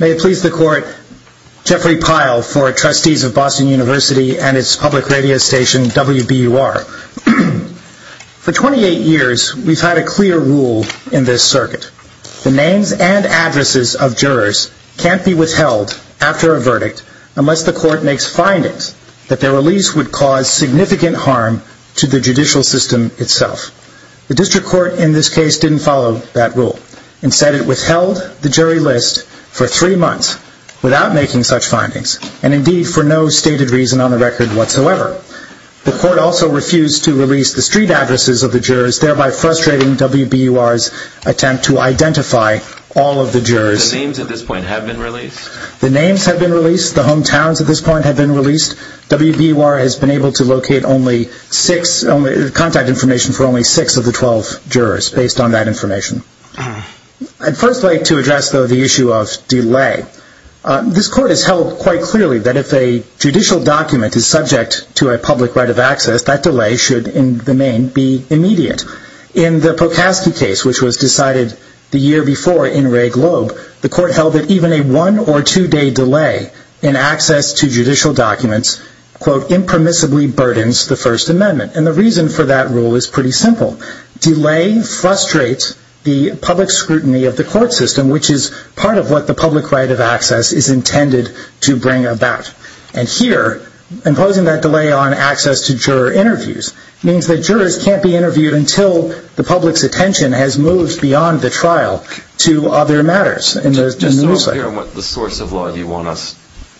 May it please the Court, Jeffrey Pyle for Trustees of Boston University and its public circuit. The names and addresses of jurors can't be withheld after a verdict unless the Court makes findings that their release would cause significant harm to the judicial system itself. The District Court in this case didn't follow that rule. Instead, it withheld the jury list for three months without making such findings, and indeed for no stated reason on the record whatsoever. The Court also refused to release the street addresses of the jurors, thereby frustrating WBUR's attempt to identify all of the jurors. The names have been released. The hometowns have been released. WBUR has been able to locate contact information for only six of the 12 jurors based on that information. I'd first like to address the issue of delay. This Court has held quite clearly that if a judicial document is subject to a public right of access, that delay should, in the main, be immediate. In the Pocaskey case, which was decided the year before in Ray Globe, the Court held that even a one- or two-day delay in access to judicial documents, quote, impermissibly burdens the First Amendment. And the reason for that rule is pretty simple. Delay frustrates the public scrutiny of the court system, which is part of what the public right of access is intended to bring about. And here, imposing that delay on access to juror interviews means that jurors can't be interviewed until the public's attention has moved beyond the trial to other matters in the ruleset. Just to be clear on what the source of law you want us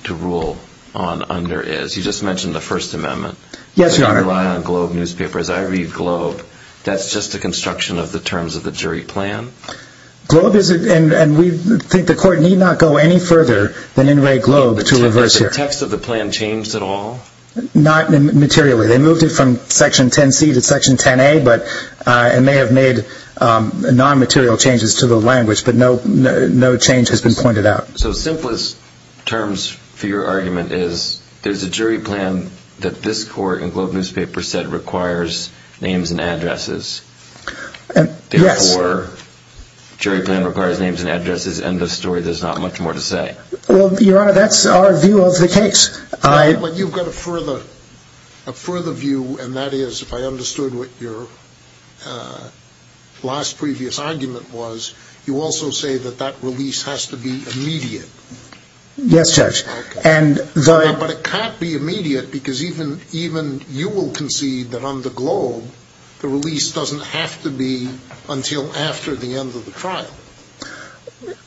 to rule on under is, you just mentioned the First Amendment. Yes, Your Honor. You rely on Globe newspapers. I read Globe. That's just a construction of the terms of the jury plan. Globe is a... and we think the Court need not go any further than in Ray Globe to reverse the text of the plan changed at all? Not materially. They moved it from Section 10C to Section 10A, but it may have made non-material changes to the language, but no change has been pointed out. So simplest terms for your argument is there's a jury plan that this Court and Globe newspaper said requires names and addresses. Yes. Therefore, jury plan requires names and addresses, and the story, there's not much more to say. Well, Your Honor, that's our view of the case. But you've got a further view, and that is, if I understood what your last previous argument was, you also say that that release has to be immediate. Yes, Judge. But it can't be immediate because even you will concede that on the Globe, the release doesn't have to be until after the end of the trial.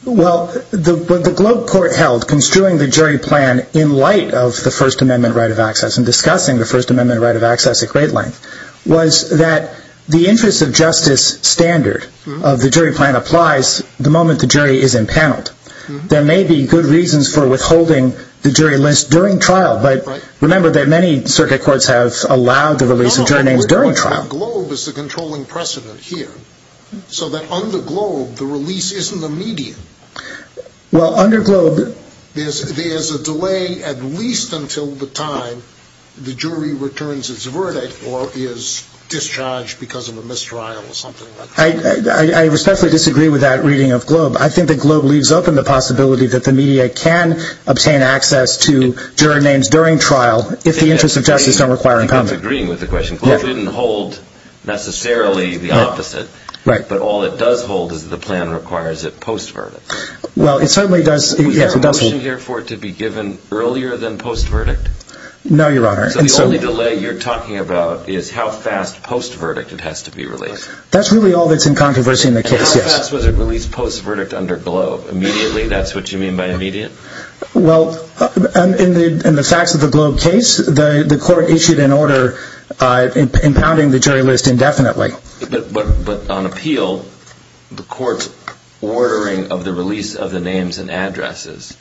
Well, what the Globe Court held, construing the jury plan in light of the First Amendment right of access and discussing the First Amendment right of access at great length, was that the interest of justice standard of the jury plan applies the moment the jury is impaneled. There may be good reasons for withholding the jury list during trial, but remember that many circuit courts have allowed the release of jury names during trial. Now, Globe is the controlling precedent here, so that on the Globe, the release isn't immediate. Well, under Globe, there's a delay at least until the time the jury returns its verdict or is discharged because of a mistrial or something like that. I respectfully disagree with that reading of Globe. I think that Globe leaves open the possibility that the media can obtain access to jury names during trial if the interests of justice don't require impanel. I think I'm agreeing with the question. Globe didn't hold necessarily the opposite, but all it does hold is the plan requires it post-verdict. We have a motion here for it to be given earlier than post-verdict? No, Your Honor. So the only delay you're talking about is how fast post-verdict it has to be released? That's really all that's in controversy in the case, yes. And how fast was it released post-verdict under Globe? Immediately? That's what you mean by immediate? Well, in the facts of the Globe case, the court issued an order impounding the jury list indefinitely. But on appeal, the court's ordering of the release of the names and addresses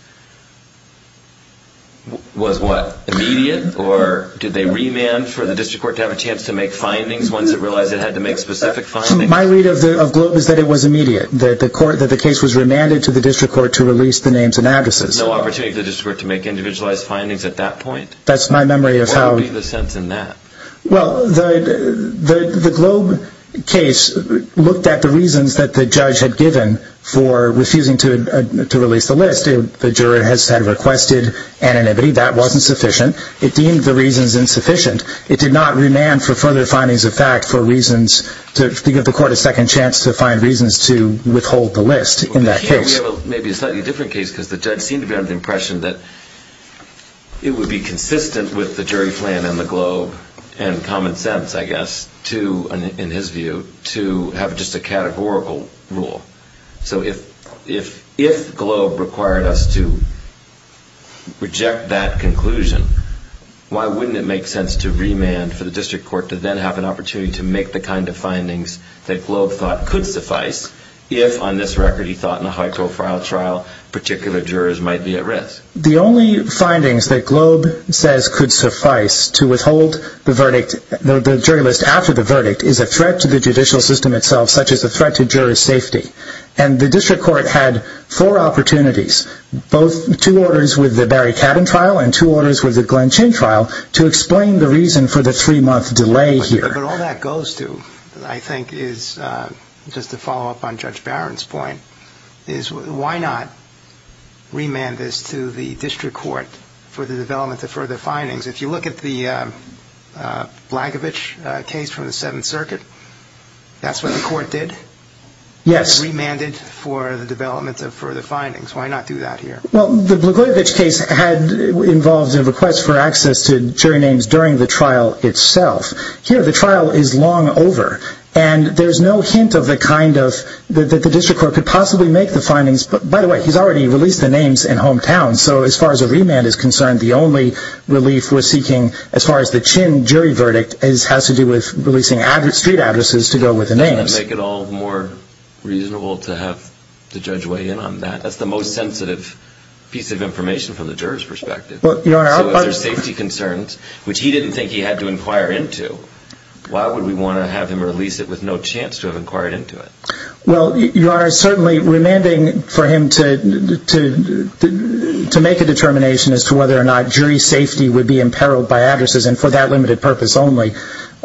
was what? Immediate? Or did they remand for the district court to have a chance to make findings once it realized it had to make specific findings? My read of Globe is that it was immediate, that the case was remanded to the district No opportunity for the district court to make individualized findings at that point? That's my memory of how... What would be the sense in that? Well, the Globe case looked at the reasons that the judge had given for refusing to release the list. The juror has said requested anonymity. That wasn't sufficient. It deemed the reasons insufficient. It did not remand for further findings of fact for reasons to give the court a second chance to find reasons to withhold the list in that case. Maybe a slightly different case because the judge seemed to be under the impression that it would be consistent with the jury plan and the Globe and common sense, I guess, in his view, to have just a categorical rule. So if Globe required us to reject that conclusion, why wouldn't it make sense to remand for the district court to then have an opportunity to make the kind of findings that Globe thought could suffice if, on this record, he thought in a high-profile trial, particular jurors might be at risk? The only findings that Globe says could suffice to withhold the verdict, the jury list after the verdict, is a threat to the judicial system itself, such as a threat to jurors' safety. And the district court had four opportunities, both two orders with the Barry Cabin trial and two orders with the Glenn Chin trial, to explain the reason for the three-month delay here. But all that goes to, I think, is, just to follow up on Judge Barron's point, is why not remand this to the district court for the development of further findings? If you look at the Blagojevich case from the Seventh Circuit, that's what the court did? Yes. Remanded for the development of further findings. Why not do that here? Well, the Blagojevich case involved a request for access to jury names during the trial itself. Here, the trial is long over, and there's no hint of the kind of, that the district court could possibly make the findings, but by the way, he's already released the names in hometown, so as far as a remand is concerned, the only relief we're seeking, as far as the Chin jury verdict, has to do with releasing street addresses to go with the names. Doesn't that make it all more reasonable to have the judge weigh in on that? That's the most sensitive piece of information from the jurors' perspective. So if there's safety concerns, which he didn't think he had to inquire into, why would we want to have him release it with no chance to have inquired into it? Well, Your Honor, certainly remanding for him to make a determination as to whether or not jury safety would be imperiled by addresses, and for that limited purpose only,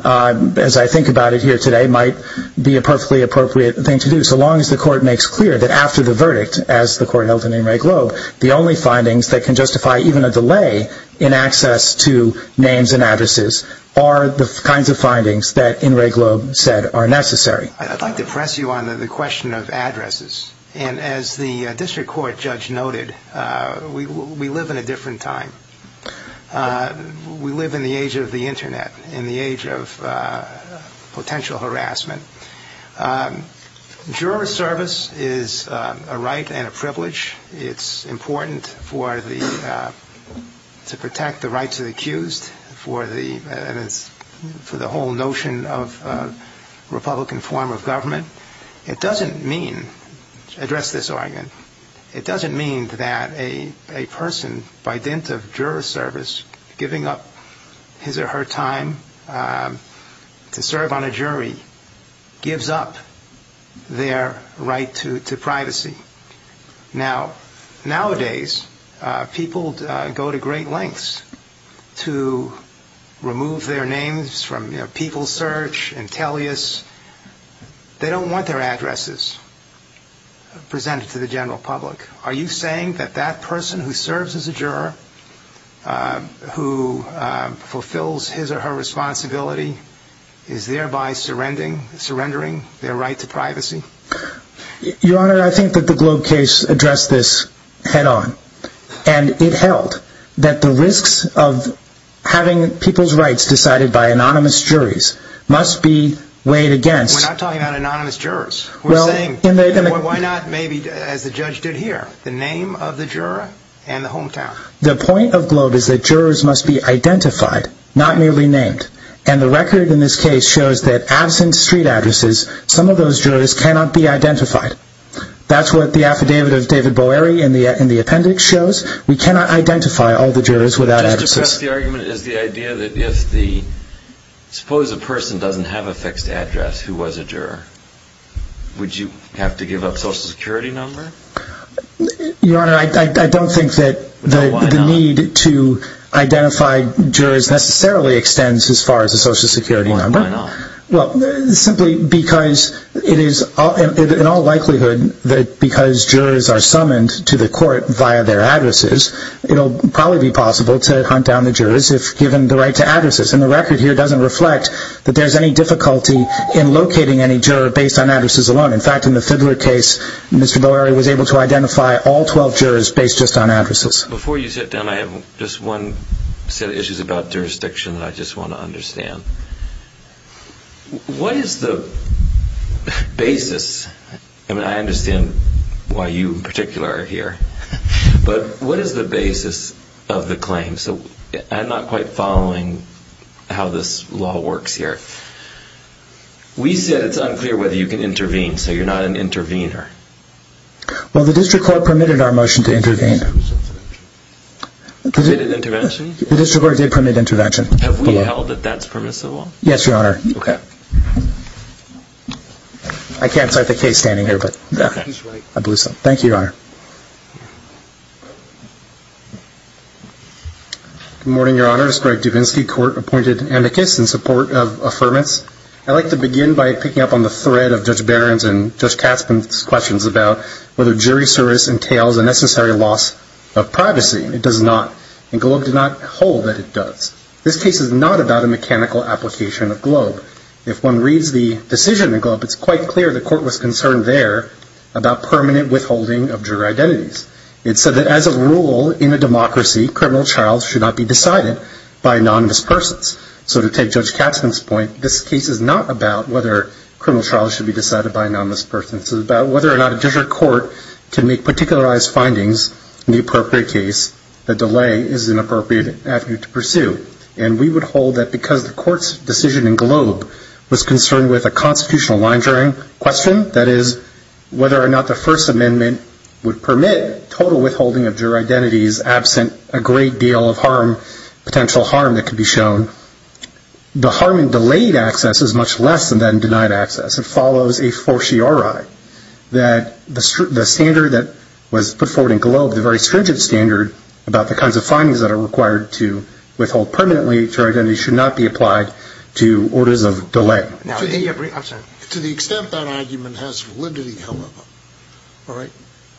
as I think about it here today, might be a perfectly appropriate thing to do, so long as the court makes clear that after the verdict, as the court held in Enright Globe, the only findings that can justify even a delay in access to names and addresses are the kinds of findings that Enright Globe said are necessary. I'd like to press you on the question of addresses, and as the district court judge noted, we live in a different time. We live in the age of the internet, in the age of potential harassment. Juror service is a right and a privilege. It's important for the, to protect the rights of the accused, for the whole notion of Republican form of government. It doesn't mean, to address this argument, it doesn't mean that a person, by dint of gives up their right to privacy. Now, nowadays, people go to great lengths to remove their names from People Search and Tellius. They don't want their addresses presented to the general public. Are you saying that that person who serves as a juror, who fulfills his or her responsibility, is thereby surrendering their right to privacy? Your Honor, I think that the Globe case addressed this head-on, and it held that the risks of having people's rights decided by anonymous juries must be weighed against... We're not talking about anonymous jurors. We're saying, why not maybe, as the judge did here, the name of the juror and the hometown? The point of Globe is that jurors must be identified, not merely named. And the record in this case shows that absent street addresses, some of those jurors cannot be identified. That's what the affidavit of David Boeri in the appendix shows. We cannot identify all the jurors without addresses. Just to press the argument, is the idea that if the, suppose a person doesn't have a fixed address who was a juror, would you have to give up social security number? Your Honor, I don't think that the need to identify jurors necessarily extends as far as a social security number. Why not? Well, simply because it is in all likelihood that because jurors are summoned to the court via their addresses, it'll probably be possible to hunt down the jurors if given the right to addresses. And the record here doesn't reflect that there's any difficulty in locating any juror based on addresses alone. In fact, in the Fiddler case, Mr. Boeri was able to identify all 12 jurors based just on addresses. Before you sit down, I have just one set of issues about jurisdiction that I just want to understand. What is the basis, and I understand why you in particular are here, but what is the basis of the claim? So I'm not quite following how this law works here. We said it's unclear whether you can intervene, so you're not an intervener. Well, the district court permitted our motion to intervene. Permitted intervention? The district court did permit intervention. Have we held that that's permissible? Yes, Your Honor. Okay. I can't cite the case standing here, but I believe so. Thank you, Your Honor. Good morning, Your Honor. I'm Justice Greg Dubinsky. Court appointed amicus in support of affirmance. I'd like to begin by picking up on the thread of Judge Barron's and Judge Katzmann's questions about whether jury service entails a necessary loss of privacy. It does not. And Globe did not hold that it does. This case is not about a mechanical application of Globe. If one reads the decision in Globe, it's quite clear the court was concerned there about permanent withholding of juror identities. It said that as a rule in a democracy, criminal trials should not be decided by anonymous persons. So to take Judge Katzmann's point, this case is not about whether criminal trials should be decided by anonymous persons. It's about whether or not a district court can make particularized findings in the appropriate case that delay is an appropriate avenue to pursue. And we would hold that because the court's decision in Globe was concerned with a constitutional line That is, whether or not the First Amendment would permit total withholding of juror identities absent a great deal of potential harm that could be shown. The harm in delayed access is much less than denied access. It follows a fortiori that the standard that was put forward in Globe, the very stringent standard about the kinds of findings that are required to withhold permanently, To the extent that argument has validity, however,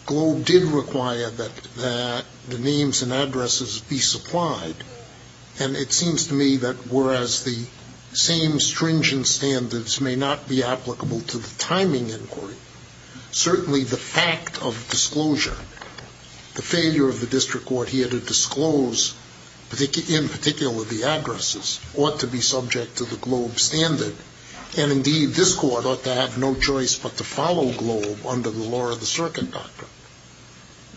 Globe did require that the names and addresses be supplied. And it seems to me that whereas the same stringent standards may not be applicable to the timing inquiry, certainly the fact of disclosure, the failure of the district court here to disclose, in particular the addresses, ought to be subject to the Globe standard. And, indeed, this court ought to have no choice but to follow Globe under the law of the circuit doctrine.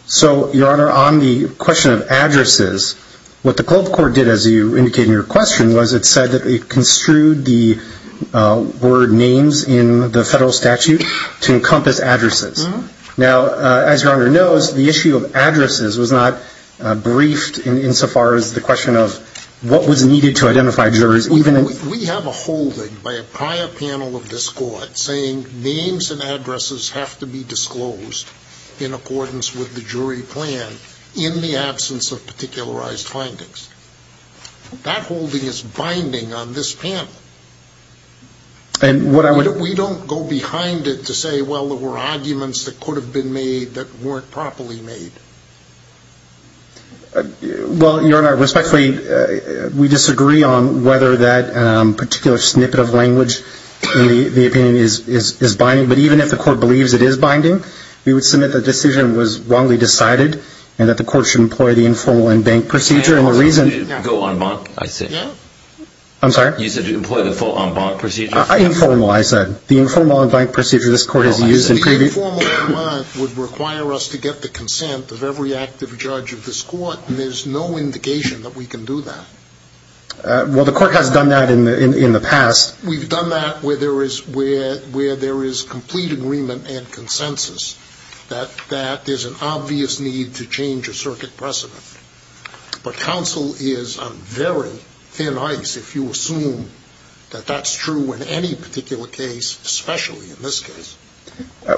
So, Your Honor, on the question of addresses, what the Globe court did, as you indicated in your question, was it said that it construed the word names in the federal statute to encompass addresses. Now, as Your Honor knows, the issue of addresses was not briefed insofar as the question of what was needed to identify jurors. We have a holding by a prior panel of this court saying names and addresses have to be disclosed in accordance with the jury plan in the absence of particularized findings. That holding is binding on this panel. And what I would We don't go behind it to say, well, there were arguments that could have been made that weren't properly made. Well, Your Honor, respectfully, we disagree on whether that particular snippet of language in the opinion is binding. But even if the court believes it is binding, we would submit the decision was wrongly decided and that the court should employ the informal in-bank procedure. Go en-bank, I said. I'm sorry? You said employ the full en-bank procedure. Informal, I said. The informal en-bank procedure this court has used in previous The informal en-bank would require us to get the consent of every active judge of this court, and there's no indication that we can do that. Well, the court has done that in the past. We've done that where there is complete agreement and consensus that there's an obvious need to change a circuit precedent. But counsel is on very thin ice if you assume that that's true in any particular case, especially in this case.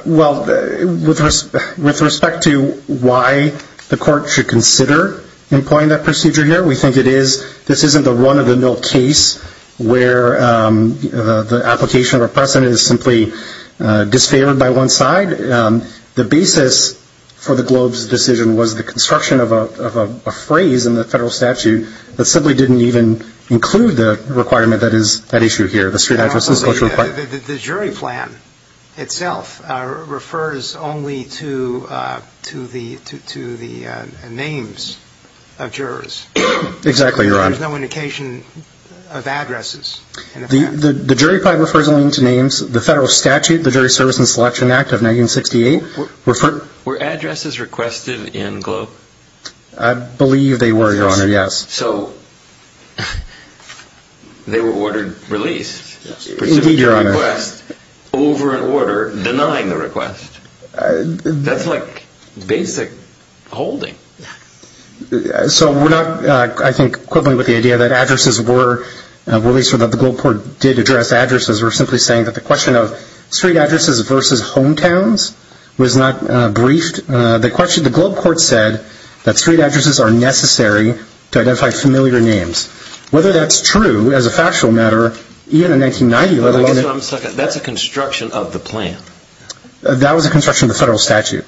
Well, with respect to why the court should consider employing that procedure here, we think this isn't the run-of-the-mill case where the application of a precedent is simply disfavored by one side. The basis for the Globe's decision was the construction of a phrase in the federal statute that simply didn't even include the requirement that is at issue here, the street addresses. The jury plan itself refers only to the names of jurors. Exactly, Your Honor. There's no indication of addresses. The jury plan refers only to names. The federal statute, the Jury Service and Selection Act of 1968 referred... Were addresses requested in Globe? I believe they were, Your Honor, yes. So they were ordered released. Indeed, Your Honor. Over an order denying the request. That's like basic holding. So we're not, I think, equivalent with the idea that addresses were released or that the Globe Court did address addresses. We're simply saying that the question of street addresses versus hometowns was not briefed. The Globe Court said that street addresses are necessary to identify familiar names. Whether that's true as a factual matter, even in 1990... That's a construction of the plan. That was a construction of the federal statute,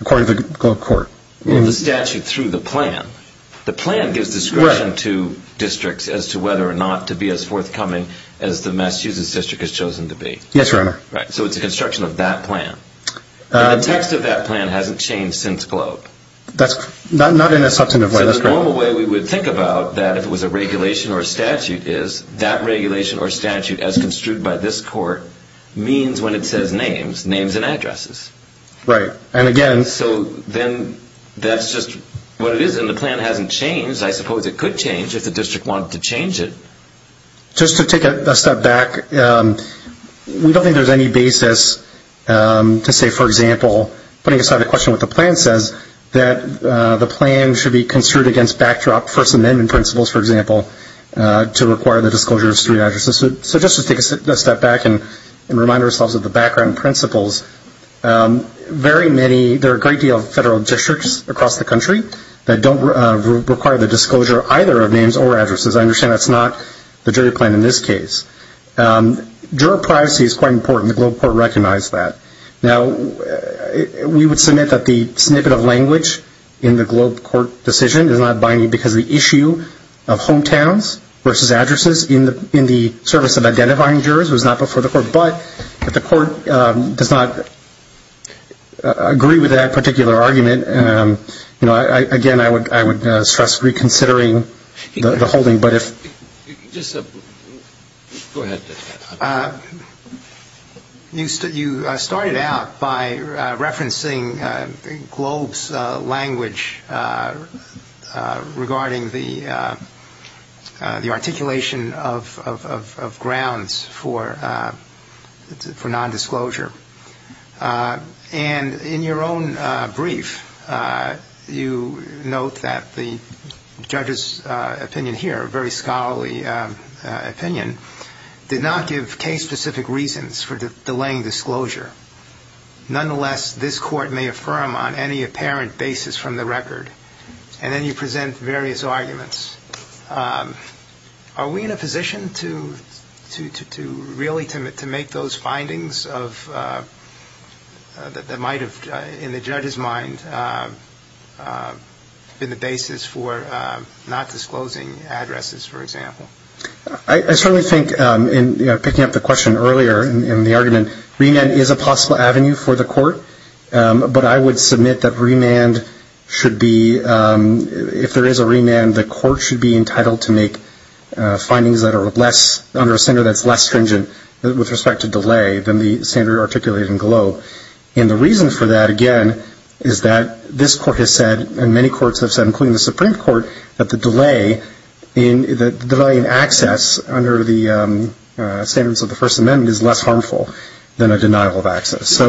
according to the Globe Court. The statute through the plan. The plan gives discretion to districts as to whether or not to be as forthcoming as the Massachusetts district has chosen to be. Yes, Your Honor. So it's a construction of that plan. The text of that plan hasn't changed since Globe. That's not in a substantive way. So the normal way we would think about that if it was a regulation or a statute is that regulation or statute as construed by this court means when it says names, names and addresses. Right. And again... So then that's just what it is and the plan hasn't changed. I suppose it could change if the district wanted to change it. Just to take a step back, we don't think there's any basis to say, for example, putting aside the question of what the plan says, that the plan should be construed against backdrop First Amendment principles, for example, to require the disclosure of street addresses. So just to take a step back and remind ourselves of the background principles. Very many, there are a great deal of federal districts across the country that don't require the disclosure either of names or addresses. I understand that's not the jury plan in this case. Juror privacy is quite important. The Globe Court recognized that. Now, we would submit that the snippet of language in the Globe Court decision is not binding because the issue of hometowns versus addresses in the service of identifying jurors was not before the court, but if the court does not agree with that particular argument, you know, again, I would stress reconsidering the holding. Go ahead. You started out by referencing Globe's language regarding the articulation of grounds for nondisclosure. And in your own brief, you note that the judge's opinion here, a very scholarly opinion, did not give case-specific reasons for delaying disclosure. Nonetheless, this court may affirm on any apparent basis from the record, and then you present various arguments. Are we in a position to really make those findings that might have, in the judge's mind, been the basis for not disclosing addresses, for example? I certainly think, in picking up the question earlier in the argument, remand is a possible avenue for the court, but I would submit that remand should be, if there is a remand, the court should be entitled to make findings that are less, under a standard that's less stringent with respect to delay than the standard articulated in Globe. And the reason for that, again, is that this court has said, and many courts have said, including the Supreme Court, that the delay in access under the standards of the First Amendment is less harmful than a denial of access.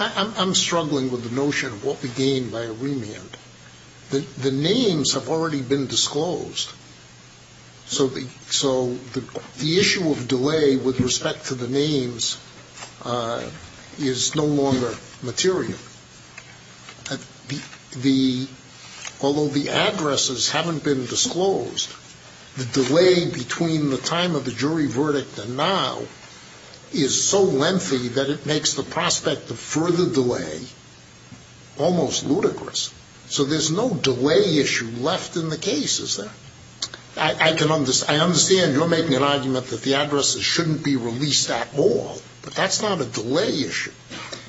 I'm struggling with the notion of what we gain by a remand. The names have already been disclosed, so the issue of delay with respect to the names is no longer material. Although the addresses haven't been disclosed, the delay between the time of the jury verdict and now is so lengthy that it makes the prospect of further delay almost ludicrous. So there's no delay issue left in the case, is there? I understand you're making an argument that the addresses shouldn't be released at all, but that's not a delay issue.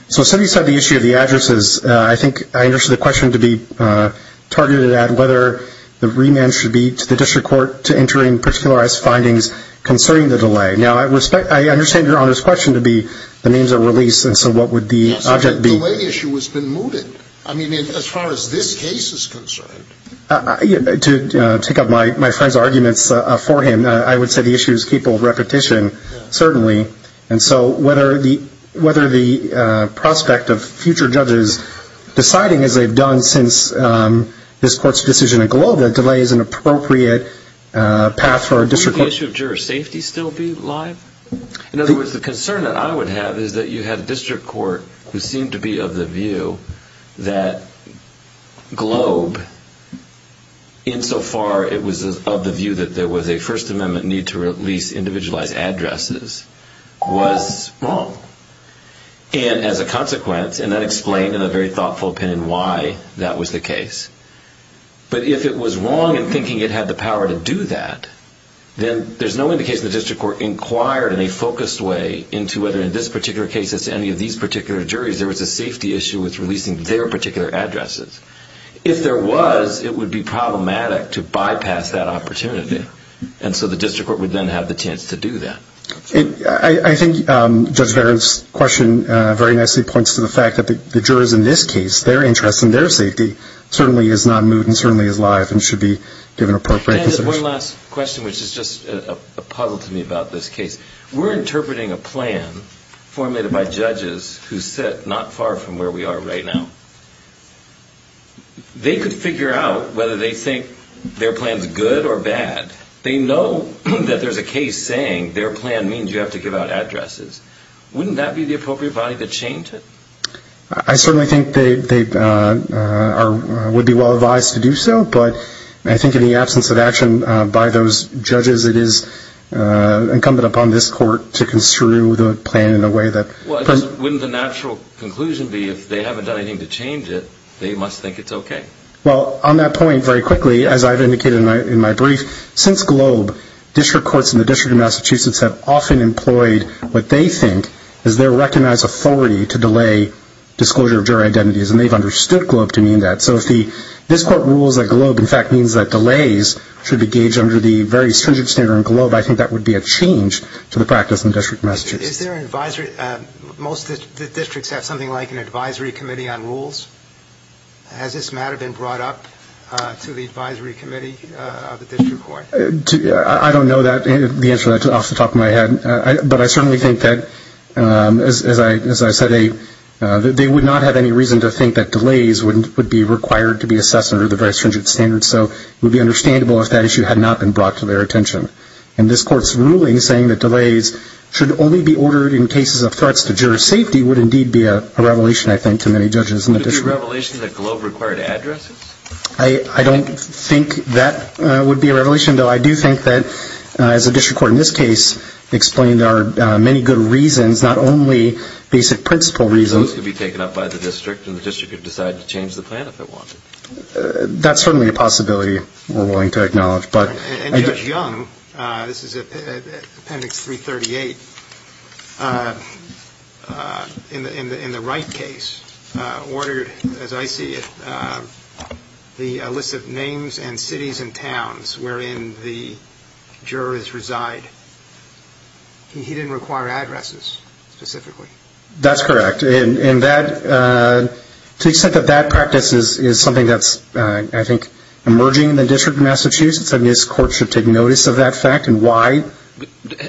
So setting aside the issue of the addresses, I think I understand the question to be targeted at whether the remand should be to the district court to enter in particularized findings concerning the delay. Now, I understand Your Honor's question to be the names are released, and so what would the object be? The way the issue has been mooted, I mean, as far as this case is concerned. To take up my friend's arguments for him, I would say the issue is capable of repetition, certainly. And so whether the prospect of future judges deciding, as they've done since this Court's decision in Globe, that delay is an appropriate path for a district court. Would the issue of juror safety still be alive? In other words, the concern that I would have is that you had a district court who seemed to be of the view that Globe, insofar it was of the view that there was a First Amendment need to release individualized addresses. And as a consequence, and that explained in a very thoughtful opinion why that was the case, but if it was wrong in thinking it had the power to do that, then there's no indication the district court inquired in a focused way into whether in this particular case as any of these particular juries there was a safety issue with releasing their particular addresses. If there was, it would be problematic to bypass that opportunity, and so the district court would then have the chance to do that. I think Judge Barron's question very nicely points to the fact that the jurors in this case, their interest in their safety certainly is not moot and certainly is live and should be given appropriate consideration. And one last question, which is just a puzzle to me about this case. We're interpreting a plan formulated by judges who sit not far from where we are right now. They could figure out whether they think their plan's good or bad. They know that there's a case saying their plan means you have to give out addresses. Wouldn't that be the appropriate body to change it? I certainly think they would be well advised to do so, but I think in the absence of action by those judges, it is incumbent upon this court to construe the plan in a way that... Wouldn't the natural conclusion be if they haven't done anything to change it, they must think it's okay? Well, on that point, very quickly, as I've indicated in my brief, since GLOBE, district courts in the District of Massachusetts have often employed what they think is their recognized authority to delay disclosure of jury identities, and they've understood GLOBE to mean that. So if this court rules that GLOBE in fact means that delays should be gauged under the very stringent standard in GLOBE, I think that would be a change to the practice in the District of Massachusetts. Is there an advisory? Most of the districts have something like an advisory committee on rules. Has this matter been brought up to the advisory committee of the district court? I don't know the answer to that off the top of my head, but I certainly think that, as I said, they would not have any reason to think that delays would be required to be assessed under the very stringent standards, so it would be understandable if that issue had not been brought to their attention. And this court's ruling saying that delays should only be ordered in cases of threats to jury safety would indeed be a revelation, I think, to many judges in the district. Would it be a revelation that GLOBE required addresses? I don't think that would be a revelation, though I do think that, as the district court in this case explained, there are many good reasons, not only basic principle reasons. Those could be taken up by the district and the district could decide to change the plan if it wanted. That's certainly a possibility we're willing to acknowledge. And Judge Young, this is Appendix 338, in the Wright case, ordered, as I see it, a list of names and cities and towns wherein the jurors reside. He didn't require addresses specifically? That's correct. And to the extent that that practice is something that's, I think, emerging in the district of Massachusetts, I think this court should take notice of that fact and why.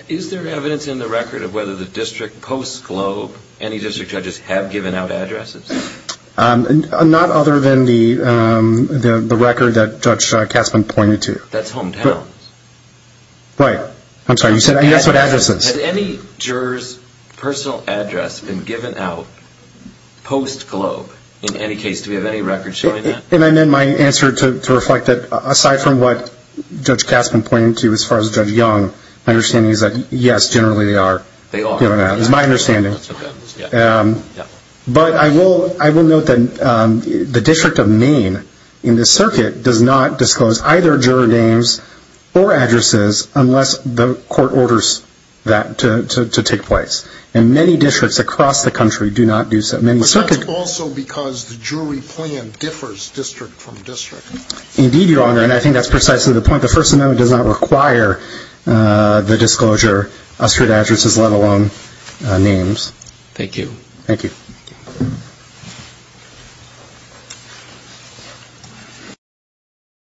Is there evidence in the record of whether the district post-GLOBE, any district judges have given out addresses? Not other than the record that Judge Kasman pointed to. That's hometowns. Has any juror's personal address been given out post-GLOBE? In any case, do we have any record showing that? And then my answer to reflect that, aside from what Judge Kasman pointed to as far as Judge Young, my understanding is that, yes, generally they are. They are. That's my understanding. But I will note that the district of Maine in this circuit does not disclose either juror names or addresses unless the court orders that to take place. And many districts across the country do not do so. But that's also because the jury plan differs district from district. Indeed, Your Honor, and I think that's precisely the point. The First Amendment does not require the disclosure of street addresses, let alone names. Thank you.